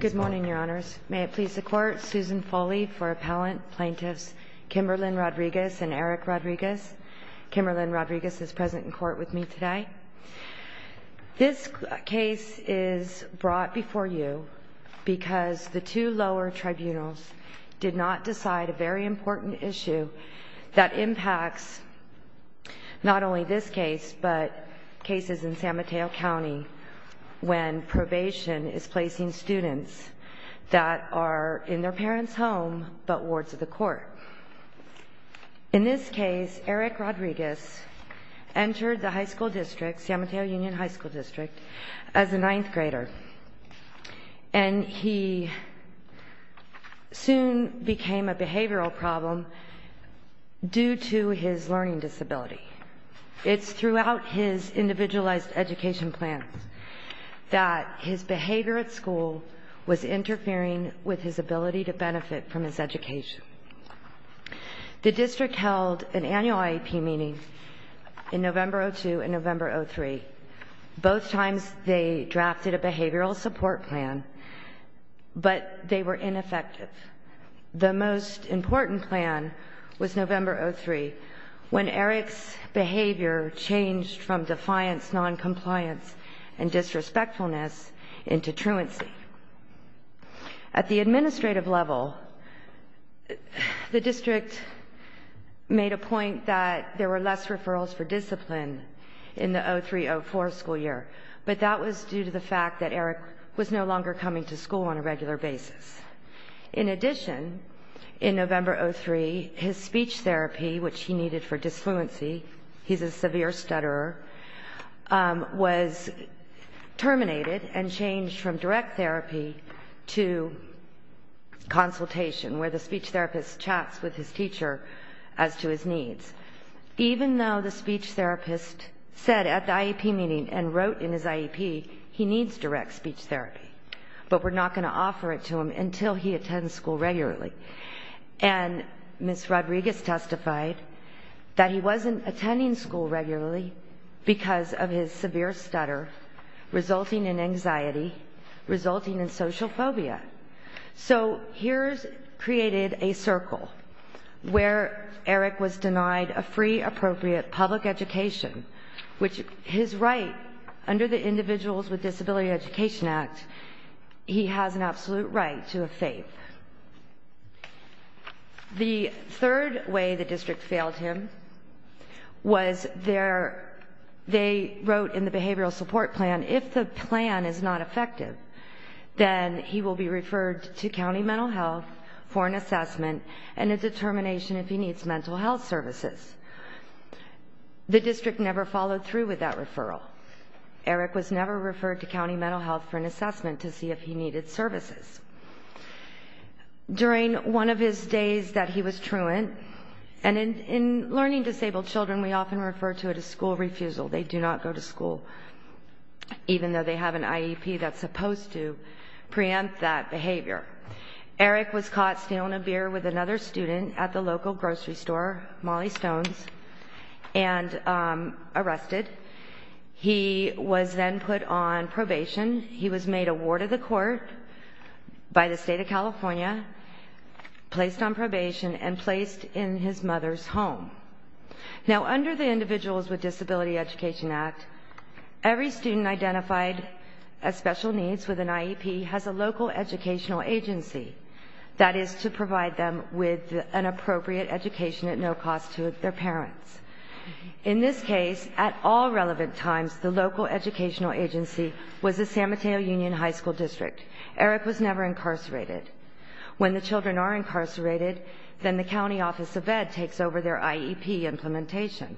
Good morning, Your Honors. May it please the Court, Susan Foley for Appellant, Plaintiffs Kimberlyn Rodriguez and Eric Rodriguez. Kimberlyn Rodriguez is present in court with me today. This case is brought before you because the two lower tribunals did not decide a very important issue that impacts not only this case, but cases in San Mateo County when probation is placing students that are in their parents' home but wards of the court. In this case, Eric Rodriguez entered the high school district, San Mateo Union High School District, as a ninth grader, and he soon became a behavioral problem due to his learning disability. It's throughout his individualized education plans that his behavior at school was interfering with his ability to benefit from his education. The district held an annual IEP meeting in November 2002 and November 2003. Both times, they drafted a behavioral support plan, but they were ineffective. The most important plan was November 2003, when Eric's behavior changed from defiance, noncompliance, and disrespectfulness into truancy. At the administrative level, the district made a point that there were less referrals for discipline in the 2003-04 school year, but that was due to the fact that Eric was no longer coming to school on a regular basis. In addition, in November 2003, his speech therapy, which he needed for disfluency, he's a severe stutterer, was terminated and changed from direct therapy to consultation, where the speech therapist chats with his teacher as to his needs. Even though the speech therapist said at the IEP meeting and wrote in his IEP, he needs direct speech therapy, but we're not going to offer it to him until he attends school regularly. And Ms. Rodriguez testified that he wasn't attending school regularly because of his severe stutter, resulting in anxiety, resulting in social phobia. So here's created a circle where Eric was denied a free, appropriate public education, which his right under the hood. The third way the district failed him was they wrote in the behavioral support plan, if the plan is not effective, then he will be referred to county mental health for an assessment and a determination if he needs mental health services. The district never followed through with that referral. Eric was never referred to county mental health for an assessment to see if he needed services. During one of his days that he was truant, and in learning disabled children, we often refer to it as school refusal. They do not go to school, even though they have an IEP that's supposed to preempt that behavior. Eric was caught stealing a beer with another student at the local grocery store, Molly requested. He was then put on probation. He was made a ward of the court by the state of California, placed on probation, and placed in his mother's home. Now under the Individuals with Disability Education Act, every student identified as special needs with an IEP has a local educational agency that is to provide them with an appropriate education at no cost to their parents. In this case, at all relevant times, the local educational agency was the San Mateo Union High School District. Eric was never incarcerated. When the children are incarcerated, then the county office of ed takes over their IEP implementation.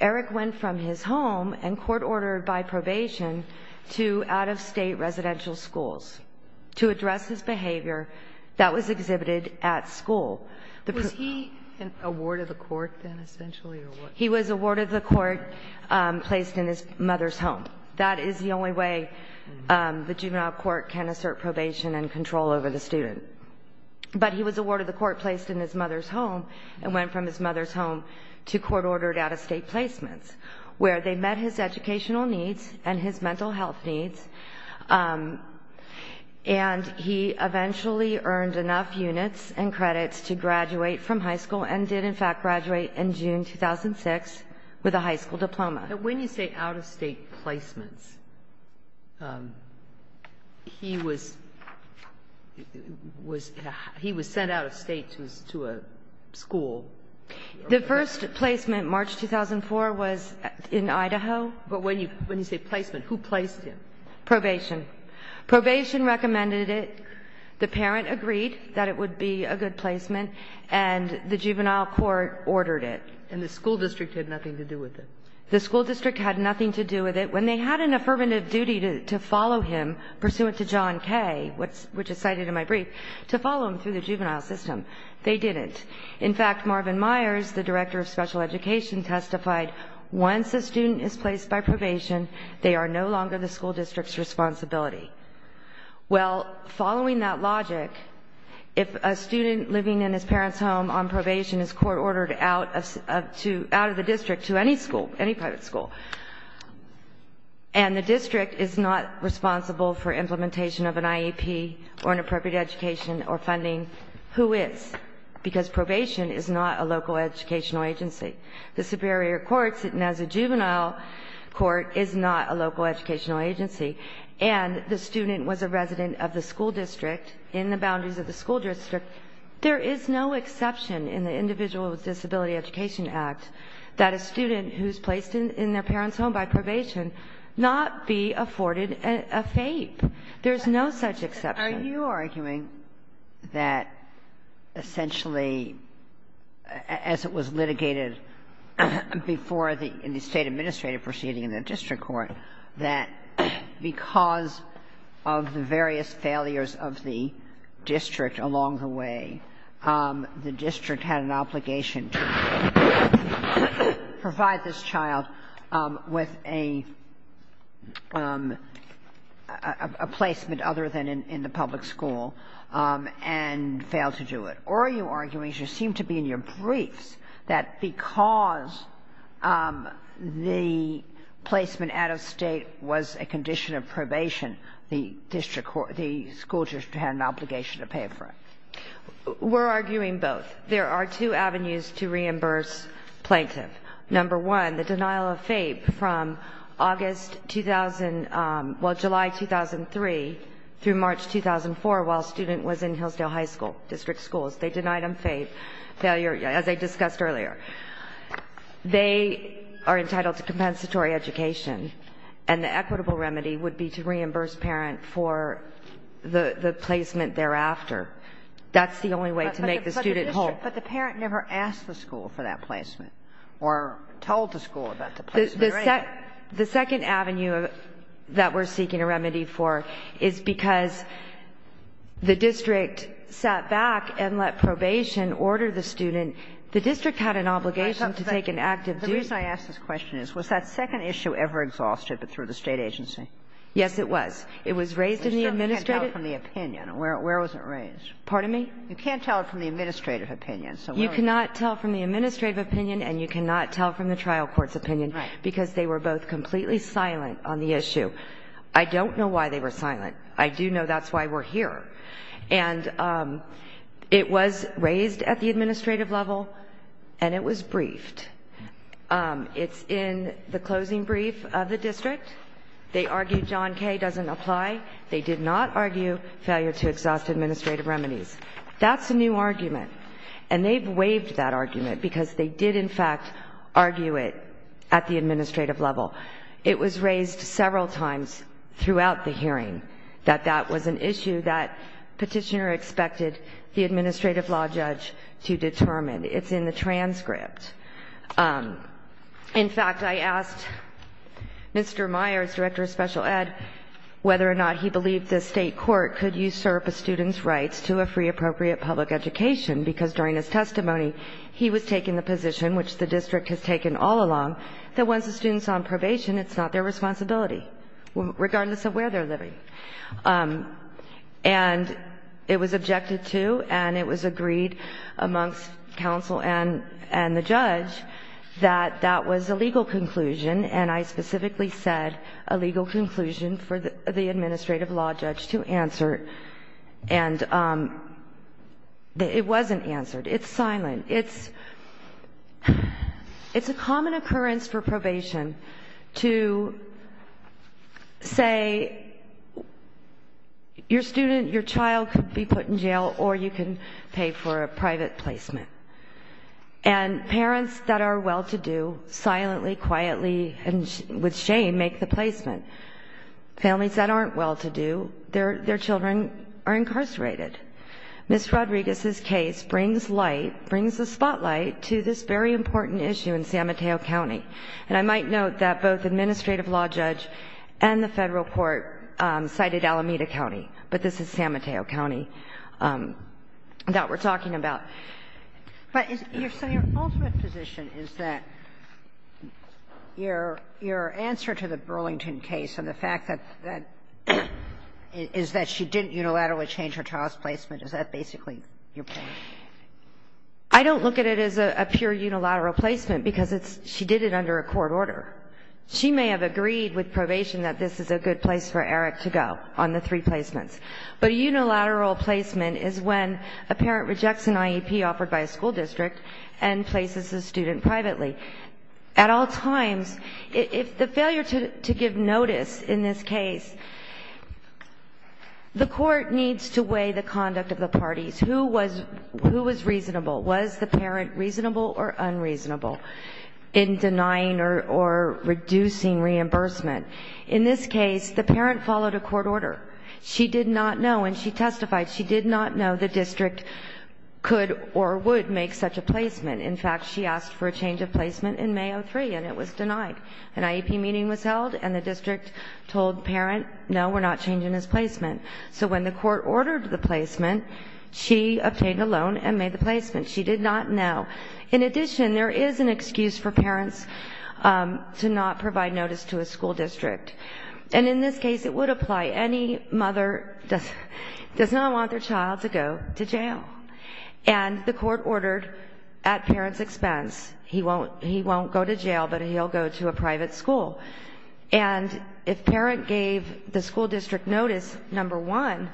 Eric went from his home, and court ordered by probation, to out-of-state residential schools to address his behavior that was exhibited at school. Was he a ward of the court then, essentially? He was a ward of the court placed in his mother's home. That is the only way the juvenile court can assert probation and control over the student. But he was a ward of the court placed in his mother's home, and went from his mother's home to court-ordered out-of-state placements, where they met his educational needs and his mental health needs. And he eventually earned enough units and credits to graduate from high school, and did in fact graduate in June 2006 with a high school diploma. And when you say out-of-state placements, he was sent out-of-state to a school. The first placement, March 2004, was in Idaho. But when you say placement, who placed him? Probation. Probation recommended it. The parent agreed that it would be a good placement, and the juvenile court ordered it. And the school district had nothing to do with it? The school district had nothing to do with it. When they had an affirmative duty to follow him, pursuant to John K., which is cited in my brief, to follow him through the juvenile system, they didn't. In fact, Marvin Myers, the director of special education, testified, once a student is placed by probation, they are no longer the school district's responsibility. Well, following that logic, if a student living in his parent's home on probation is court-ordered out of the district to any school, any private school, and the district is not responsible for implementation of an IEP, or an appropriate education, or funding, who is? Because probation is not a local educational agency. The Superior Court, sitting as a juvenile court, is not a local educational agency. And the student was a resident of the school district, in the boundaries of the school district. There is no exception in the Individuals with Disability Education Act that a student who is placed in their parent's home by probation not be afforded a FAPE. There is no such exception. Are you arguing that essentially, as it was litigated before the State administrative proceeding in the district court, that because of the various failures of the district along the way, the district had an obligation to provide this child with a placement other than in the public school, and failed to do it? Or are you arguing, as you seem to be in your briefs, that because the placement out of State was a condition of probation, the school district had an obligation to pay for it? We're arguing both. There are two avenues to reimburse plaintiff. Number one, the denial of FAPE from August 2000, well, July 2003 through March 2004, while student was in Hillsdale High School district schools. They denied him FAPE, failure, as I discussed earlier. They are entitled to compensatory education, and the equitable remedy would be to reimburse parent for the placement thereafter. That's the only way to make the student whole. But the parent never asked the school for that placement, or told the school about the placement rate. The second avenue that we're seeking a remedy for is because the district sat back and let probation order the student. The district had an obligation to take an active duty. The reason I ask this question is, was that second issue ever exhausted, but through the State agency? Yes, it was. It was raised in the administrative. You can't tell from the opinion. Where was it raised? Pardon me? You can't tell from the administrative opinion. You cannot tell from the administrative opinion, and you cannot tell from the trial court's opinion, because they were both completely silent on the issue. I don't know why they were silent. I do know that's why we're here. And it was raised at the administrative level, and it was briefed. It's in the closing brief of the district. They argue John K. doesn't apply. They did not argue failure to exhaust administrative remedies. That's a new argument, and they've waived that argument because they did, in fact, argue it at the administrative level. It was raised several times throughout the hearing that that was an issue that petitioner expected the administrative law judge to determine. It's in the transcript. In fact, I asked Mr. Meyers, Director of Special Ed, whether or not he believed the State court could usurp a free, appropriate public education, because during his testimony, he was taking the position, which the district has taken all along, that once a student's on probation, it's not their responsibility, regardless of where they're living. And it was objected to, and it was agreed amongst counsel and the judge that that was a legal conclusion, and I specifically said a legal conclusion for the It wasn't answered. It's silent. It's a common occurrence for probation to say your student, your child could be put in jail, or you can pay for a private placement. And parents that are well-to-do silently, quietly, and with shame, make the placement. Families that aren't well-to-do, their children are Ms. Rodriguez's case brings light, brings the spotlight, to this very important issue in San Mateo County. And I might note that both the administrative law judge and the Federal court cited Alameda County, but this is San Mateo County that we're talking about. But your ultimate position is that your answer to the Burlington case and the fact that that she didn't unilaterally change her child's placement, is that basically your point? I don't look at it as a pure unilateral placement, because she did it under a court order. She may have agreed with probation that this is a good place for Eric to go, on the three placements. But a unilateral placement is when a parent rejects an IEP offered by a school district and places the student privately. At all times, if the failure to give notice in this case, the court needs to weigh the conduct of the parties. Who was reasonable? Was the parent reasonable or unreasonable in denying or reducing reimbursement? In this case, the parent followed a court order. She did not know, and she testified, she did not know the district could or would make such a decision. She testified. An IEP meeting was held, and the district told the parent, no, we're not changing his placement. So when the court ordered the placement, she obtained a loan and made the placement. She did not know. In addition, there is an excuse for parents to not provide notice to a school district. And in this case, it would apply. Any mother does not want their child to go to jail. And the court does not want the child to go to a private school. And if parent gave the school district notice, number one,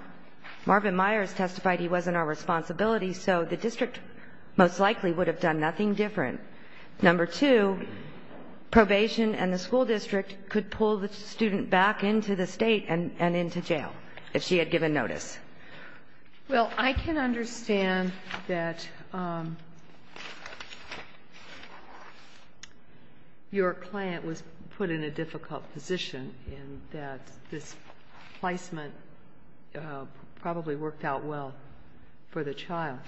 Marvin Myers testified he wasn't our responsibility, so the district most likely would have done nothing different. Number two, probation and the school district could pull the student back into the State and into jail, if she had given notice. And the parent was put in a difficult position in that this placement probably worked out well for the child.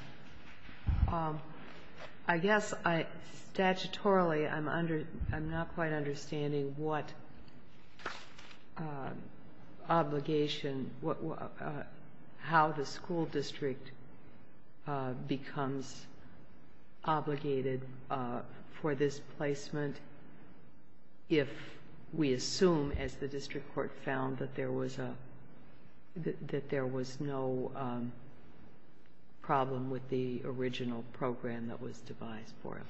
I guess I, statutorily, I'm under, I'm not quite understanding what obligation, what, how the school district becomes obligated for this placement if we assume, as the district court found, that there was a, that there was no problem with the original program that was devised for him.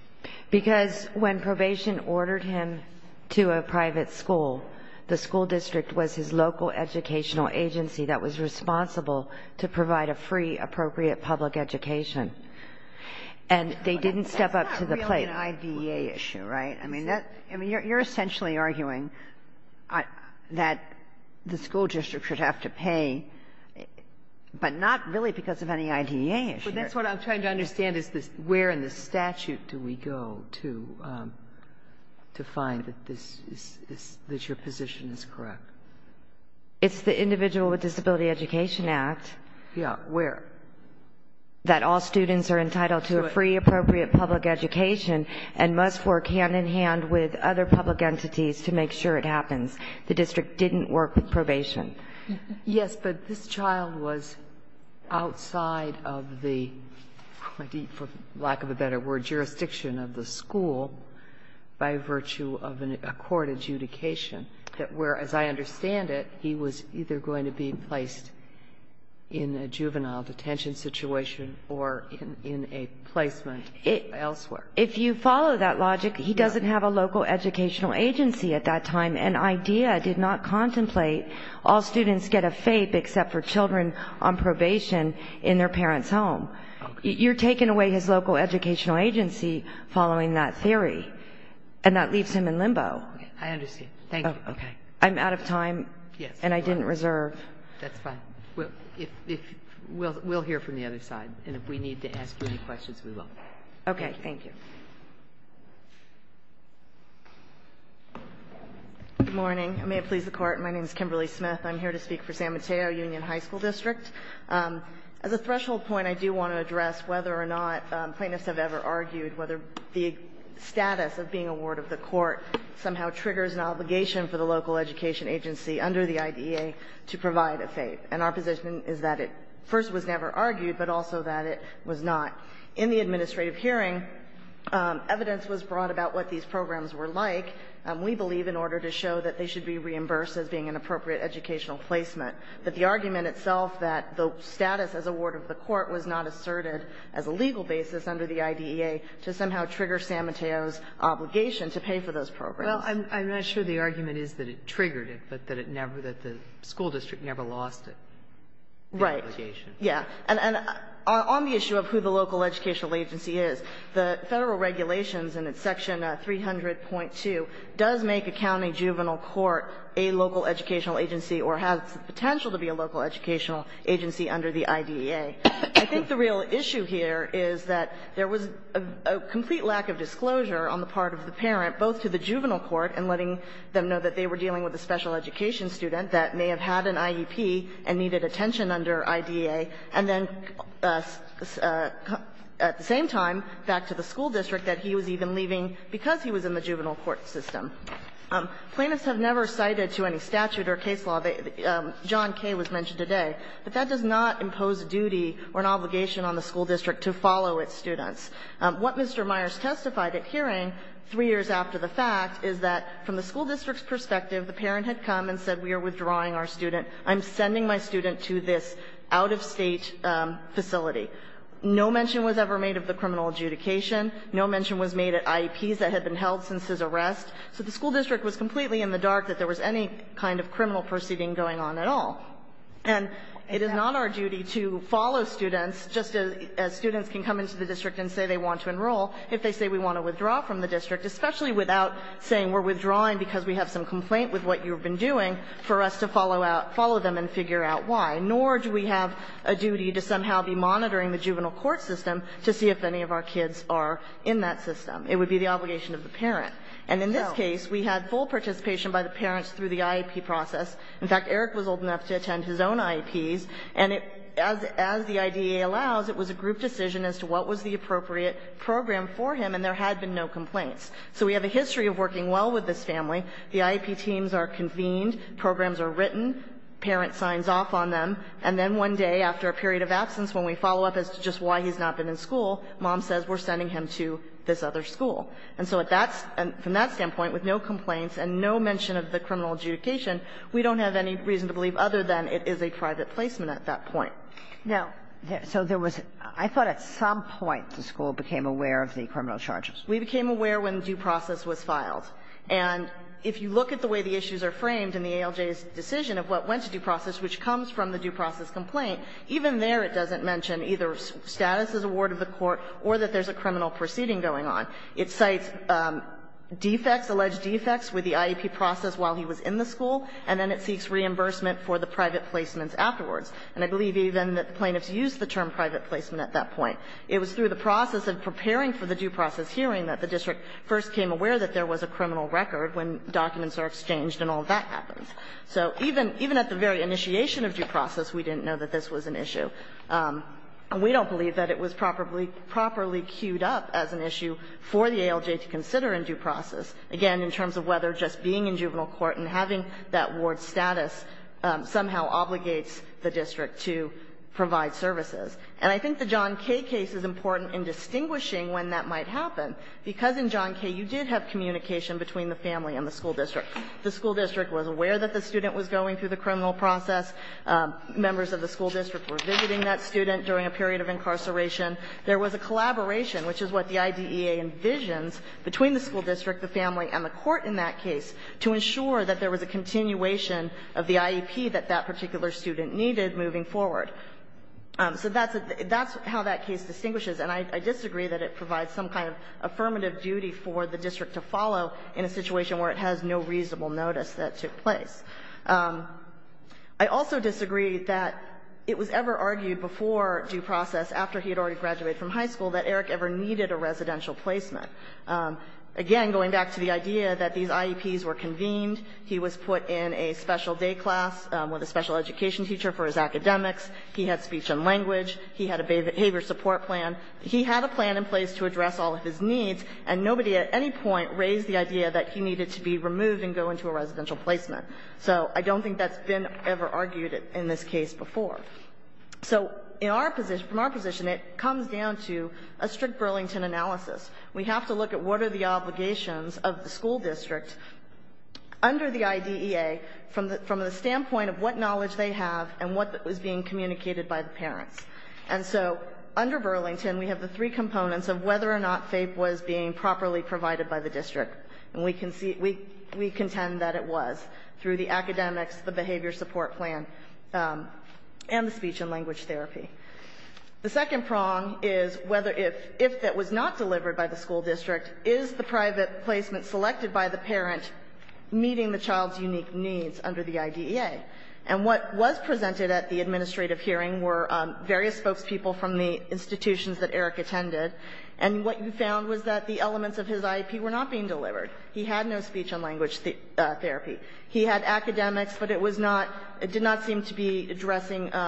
Because when probation ordered him to a private school, the school district was his local educational agency that was responsible to provide a free, appropriate public education. And they didn't step up to the plate. Kagan. That's not really an IDEA issue, right? I mean, that's, I mean, you're essentially arguing that the school district should have to pay, but not really because of any IDEA issue. But that's what I'm trying to understand is this, where in the statute do we go to find that this is, that your position is correct? It's the Individual with Disability Education Act. Yeah. Where? That all students are entitled to a free, appropriate public education and must work hand-in-hand with other public entities to make sure it happens. The district didn't work with probation. Yes, but this child was outside of the, for lack of a better word, jurisdiction of the school by virtue of a court adjudication that where, as I understand it, he was either going to be placed in a juvenile detention situation or in a placement elsewhere. If you follow that logic, he doesn't have a local educational agency at that time, and IDEA did not contemplate all students get a FAPE except for children on probation in their parents' home. You're taking away his local educational agency following that theory, and that leaves him in limbo. I understand. Thank you. I'm out of time. Yes. And I didn't reserve. That's fine. We'll hear from the other side, and if we need to ask you any questions, we will. Okay. Thank you. Good morning. May it please the Court. My name is Kimberly Smith. I'm here to speak for San Mateo Union High School District. As a threshold point, I do want to address whether or not plaintiffs have ever argued whether the status of being a ward of the court somehow triggers an obligation for the local education agency under the IDEA to provide a FAPE. And our position is that it first was never argued, but also that it was not. In the administrative hearing, evidence was brought about what these programs were like. We believe in order to show that they should be reimbursed as being an appropriate educational placement, that the argument itself that the status as a ward of the court was not asserted as a legal basis under the IDEA to somehow trigger San Mateo's obligation to pay for those programs. Well, I'm not sure the argument is that it triggered it, but that it never – that the school district never lost it. Right. The obligation. Yeah. And on the issue of who the local educational agency is, the Federal regulations and it's section 300.2 does make a county juvenile court a local educational agency or has the potential to be a local educational agency under the IDEA. I think the real issue here is that there was a complete lack of disclosure on the part of the parent, both to the juvenile court and letting them know that they were dealing with a special education student that may have had an IEP and needed attention under IDEA, and then at the same time back to the school district that he was even leaving because he was in the juvenile court system. Plaintiffs have never cited to any statute or case law that John K. was mentioned today, but that does not impose a duty or an obligation on the school district to follow its students. What Mr. Myers testified at hearing three years after the fact is that from the school district's perspective, the parent had come and said we are withdrawing our student. I'm sending my student to this out-of-state facility. No mention was ever made of the criminal adjudication. No mention was made at IEPs that had been held since his arrest. So the school district was completely in the dark that there was any kind of criminal proceeding going on at all. And it is not our duty to follow students, just as students can come into the district and say they want to enroll, if they say we want to withdraw from the district, especially without saying we're withdrawing because we have some complaint with what you've been doing, for us to follow out, follow them and figure out why. Nor do we have a duty to somehow be monitoring the juvenile court system to see if any of our kids are in that system. It would be the obligation of the parent. And in this case, we had full participation by the parents through the IEP process. In fact, Eric was old enough to attend his own IEPs, and as the IDEA allows, it was a group decision as to what was the appropriate program for him, and there had been no complaints. So we have a history of working well with this family. The IEP teams are convened, programs are written, parent signs off on them, and then one day after a period of absence when we follow up as to just why he's not active in school, mom says we're sending him to this other school. And so at that's – from that standpoint, with no complaints and no mention of the criminal adjudication, we don't have any reason to believe other than it is a private placement at that point. Now, there – so there was – I thought at some point the school became aware of the criminal charges. We became aware when due process was filed. And if you look at the way the issues are framed in the ALJ's decision of what went to due process, which comes from the due process complaint, even there it doesn't mention either status as a ward of the court or that there's a criminal proceeding going on. It cites defects, alleged defects, with the IEP process while he was in the school, and then it seeks reimbursement for the private placements afterwards. And I believe even that the plaintiffs used the term private placement at that point. It was through the process of preparing for the due process hearing that the district first came aware that there was a criminal record when documents are exchanged and all that happens. So even at the very initiation of due process, we didn't know that this was an issue. And we don't believe that it was properly – properly cued up as an issue for the ALJ to consider in due process, again, in terms of whether just being in juvenile court and having that ward status somehow obligates the district to provide services. And I think the John Kay case is important in distinguishing when that might happen, because in John Kay you did have communication between the family and the school district. The school district was aware that the student was going through the criminal process. Members of the school district were visiting that student during a period of incarceration. There was a collaboration, which is what the IDEA envisions, between the school district, the family, and the court in that case to ensure that there was a continuation of the IEP that that particular student needed moving forward. So that's – that's how that case distinguishes. And I disagree that it provides some kind of affirmative duty for the district to follow in a situation where it has no reasonable notice that took place. I also disagree that it was ever argued before due process, after he had already graduated from high school, that Eric ever needed a residential placement. Again, going back to the idea that these IEPs were convened, he was put in a special day class with a special education teacher for his academics. He had speech and language. He had a behavior support plan. He had a plan in place to address all of his needs, and nobody at any point raised the idea that he needed to be removed and go into a residential placement. So I don't think that's been ever argued in this case before. So in our position – from our position, it comes down to a strict Burlington analysis. We have to look at what are the obligations of the school district under the IDEA from the standpoint of what knowledge they have and what was being communicated by the parents. And so under Burlington, we have the three components of whether or not FAPE was being properly provided by the district. And we contend that it was. Through the academics, the behavior support plan, and the speech and language therapy. The second prong is whether – if that was not delivered by the school district, is the private placement selected by the parent meeting the child's unique needs under the IDEA? And what was presented at the administrative hearing were various spokespeople from the institutions that Eric attended, and what you found was that the elements of his IEP were not being delivered. He had no speech and language therapy. He had academics, but it was not – it did not seem to be addressing –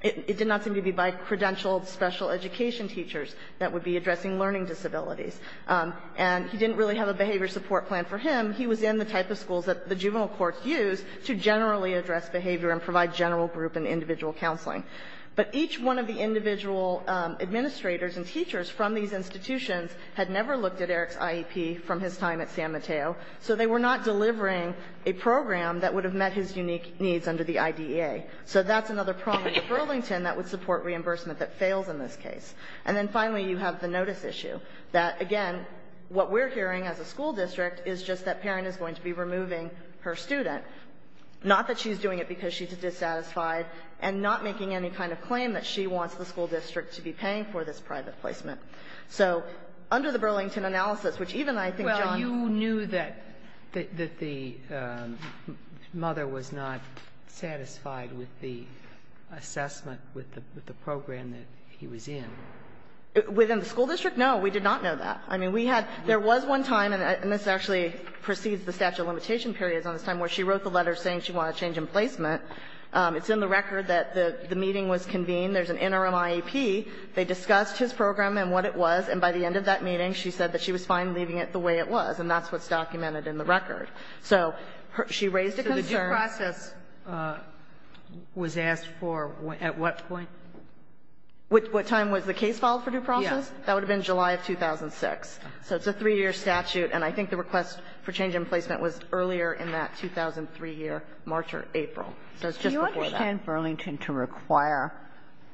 it did not seem to be by credentialed special education teachers that would be addressing learning disabilities. And he didn't really have a behavior support plan for him. He was in the type of schools that the juvenile courts use to generally address behavior and provide general group and individual counseling. But each one of the individual administrators and teachers from these institutions had never looked at Eric's IEP from his time at San Mateo. So they were not delivering a program that would have met his unique needs under the IDEA. So that's another prong in Burlington that would support reimbursement that fails in this case. And then finally, you have the notice issue that, again, what we're hearing as a school district is just that parent is going to be removing her student, not that she's doing it because she's dissatisfied, and not making any kind of claim that she wants the school district to be paying for this private placement. So under the Burlington analysis, which even I think, John – That the mother was not satisfied with the assessment with the program that he was in. Within the school district, no. We did not know that. I mean, we had – there was one time, and this actually precedes the statute of limitation periods on this time, where she wrote the letter saying she wanted a change in placement. It's in the record that the meeting was convened. There's an interim IEP. They discussed his program and what it was. And by the end of that meeting, she said that she was fine leaving it the way it was. And that's what's documented in the record. So she raised a concern. So the due process was asked for at what point? What time was the case filed for due process? Yes. That would have been July of 2006. So it's a 3-year statute, and I think the request for change in placement was earlier in that 2003 year, March or April. So it's just before that. Do you understand Burlington to require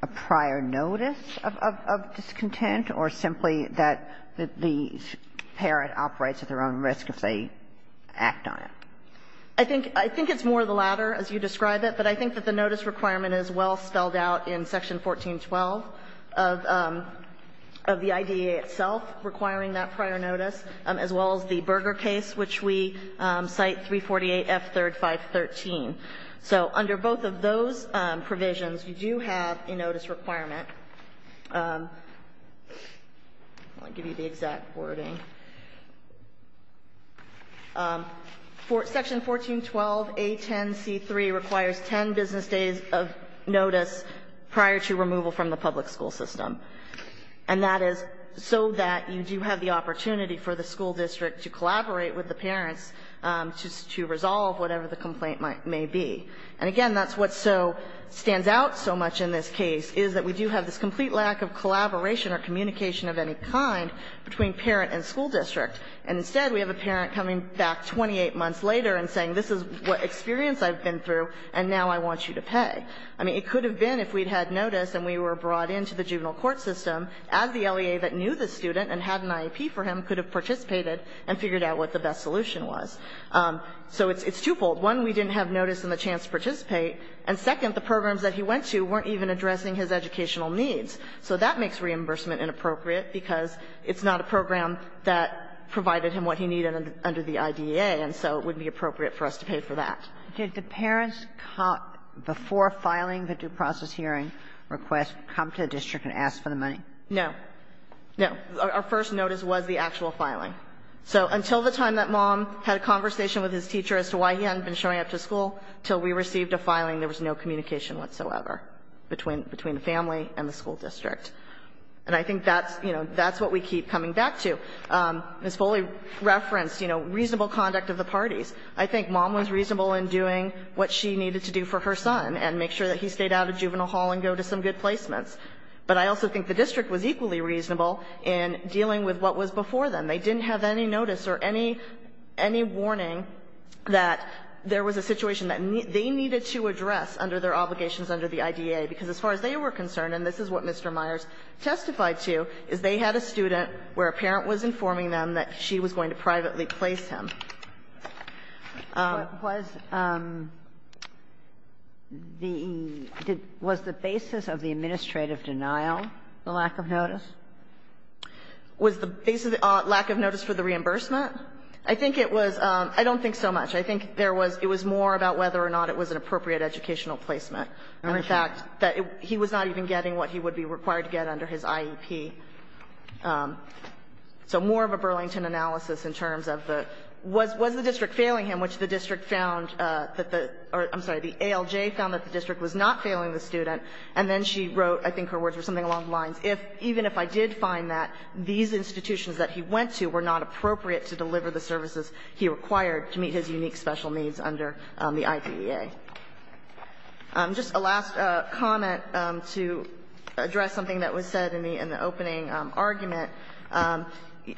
a prior notice of discontent, or simply that the parent operates at their own risk if they act on it? I think it's more the latter, as you describe it. But I think that the notice requirement is well spelled out in Section 1412 of the IDEA itself requiring that prior notice, as well as the Berger case, which we cite 348F3-513. So under both of those provisions, you do have a notice requirement. I'll give you the exact wording. Section 1412A10C3 requires 10 business days of notice prior to removal from the public school system. And that is so that you do have the opportunity for the school district to collaborate with the parents to resolve whatever the complaint may be. And, again, that's what so stands out so much in this case, is that we do have the complete lack of collaboration or communication of any kind between parent and school district. And, instead, we have a parent coming back 28 months later and saying, this is what experience I've been through, and now I want you to pay. I mean, it could have been, if we'd had notice and we were brought into the juvenile court system, as the LEA that knew the student and had an IEP for him could have participated and figured out what the best solution was. So it's twofold. One, we didn't have notice and the chance to participate. And, second, the programs that he went to weren't even addressing his educational needs. So that makes reimbursement inappropriate because it's not a program that provided him what he needed under the IDEA, and so it wouldn't be appropriate for us to pay for that. Kagan, did parents, before filing the due process hearing request, come to the district and ask for the money? No. No. Our first notice was the actual filing. So until the time that Mom had a conversation with his teacher as to why he hadn't been showing up to school until we received a filing, there was no communication whatsoever between the family and the school district. And I think that's, you know, that's what we keep coming back to. Ms. Foley referenced, you know, reasonable conduct of the parties. I think Mom was reasonable in doing what she needed to do for her son and make sure that he stayed out of juvenile hall and go to some good placements. But I also think the district was equally reasonable in dealing with what was before them. They didn't have any notice or any warning that there was a situation that they needed to address under their obligations under the IDEA, because as far as they were concerned, and this is what Mr. Myers testified to, is they had a student where a parent was informing them that she was going to privately place him. Was the basis of the administrative denial the lack of notice? Was the basis of the lack of notice for the reimbursement? I think it was – I don't think so much. I think there was – it was more about whether or not it was an appropriate educational placement. And, in fact, that he was not even getting what he would be required to get under his IEP. So more of a Burlington analysis in terms of the – was the district failing him, which the district found that the – or, I'm sorry, the ALJ found that the district was not failing the student, and then she wrote, I think her words were something along the lines, even if I did find that these institutions that he went to were not appropriate to deliver the services he required to meet his unique special needs under the IDEA. Just a last comment to address something that was said in the opening argument.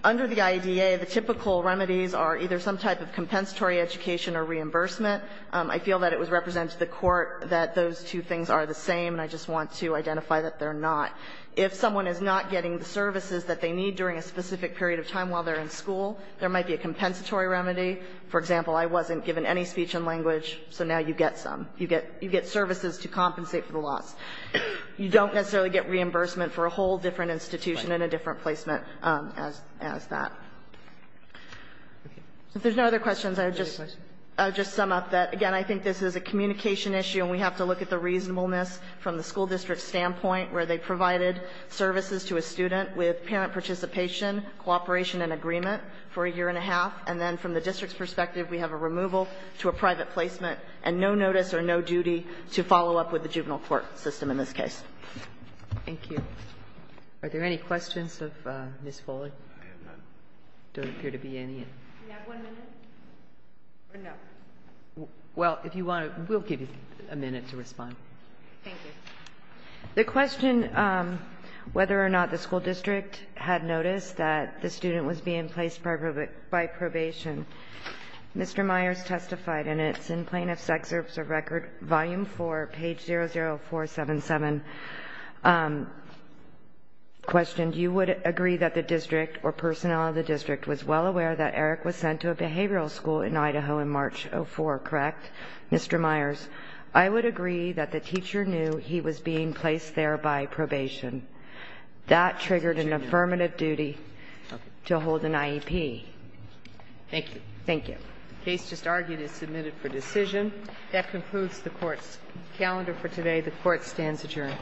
Under the IDEA, the typical remedies are either some type of compensatory education or reimbursement. I feel that it was represented to the Court that those two things are the same, and I just want to identify that they're not. If someone is not getting the services that they need during a specific period of time while they're in school, there might be a compensatory remedy. For example, I wasn't given any speech and language, so now you get some. You get services to compensate for the loss. You don't necessarily get reimbursement for a whole different institution and a different placement as that. If there's no other questions, I would just sum up that, again, I think this is a communication issue and we have to look at the reasonableness from the school district standpoint where they provided services to a student with parent participation, cooperation and agreement for a year and a half. And then from the district's perspective, we have a removal to a private placement and no notice or no duty to follow up with the juvenile court system in this case. Thank you. Are there any questions of Ms. Foley? There don't appear to be any. Do we have one minute? Or no? Well, if you want to, we'll give you a minute to respond. Thank you. The question whether or not the school district had noticed that the student was being placed by probation, Mr. Myers testified, and it's in Plaintiff's Excerpt of Record, Volume 4, page 00477, questioned, you would agree that the district or personnel of the district was well aware that Mr. Myers, I would agree that the teacher knew he was being placed there by probation. That triggered an affirmative duty to hold an IEP. Thank you. Thank you. The case just argued is submitted for decision. That concludes the Court's calendar for today. The Court stands adjourned.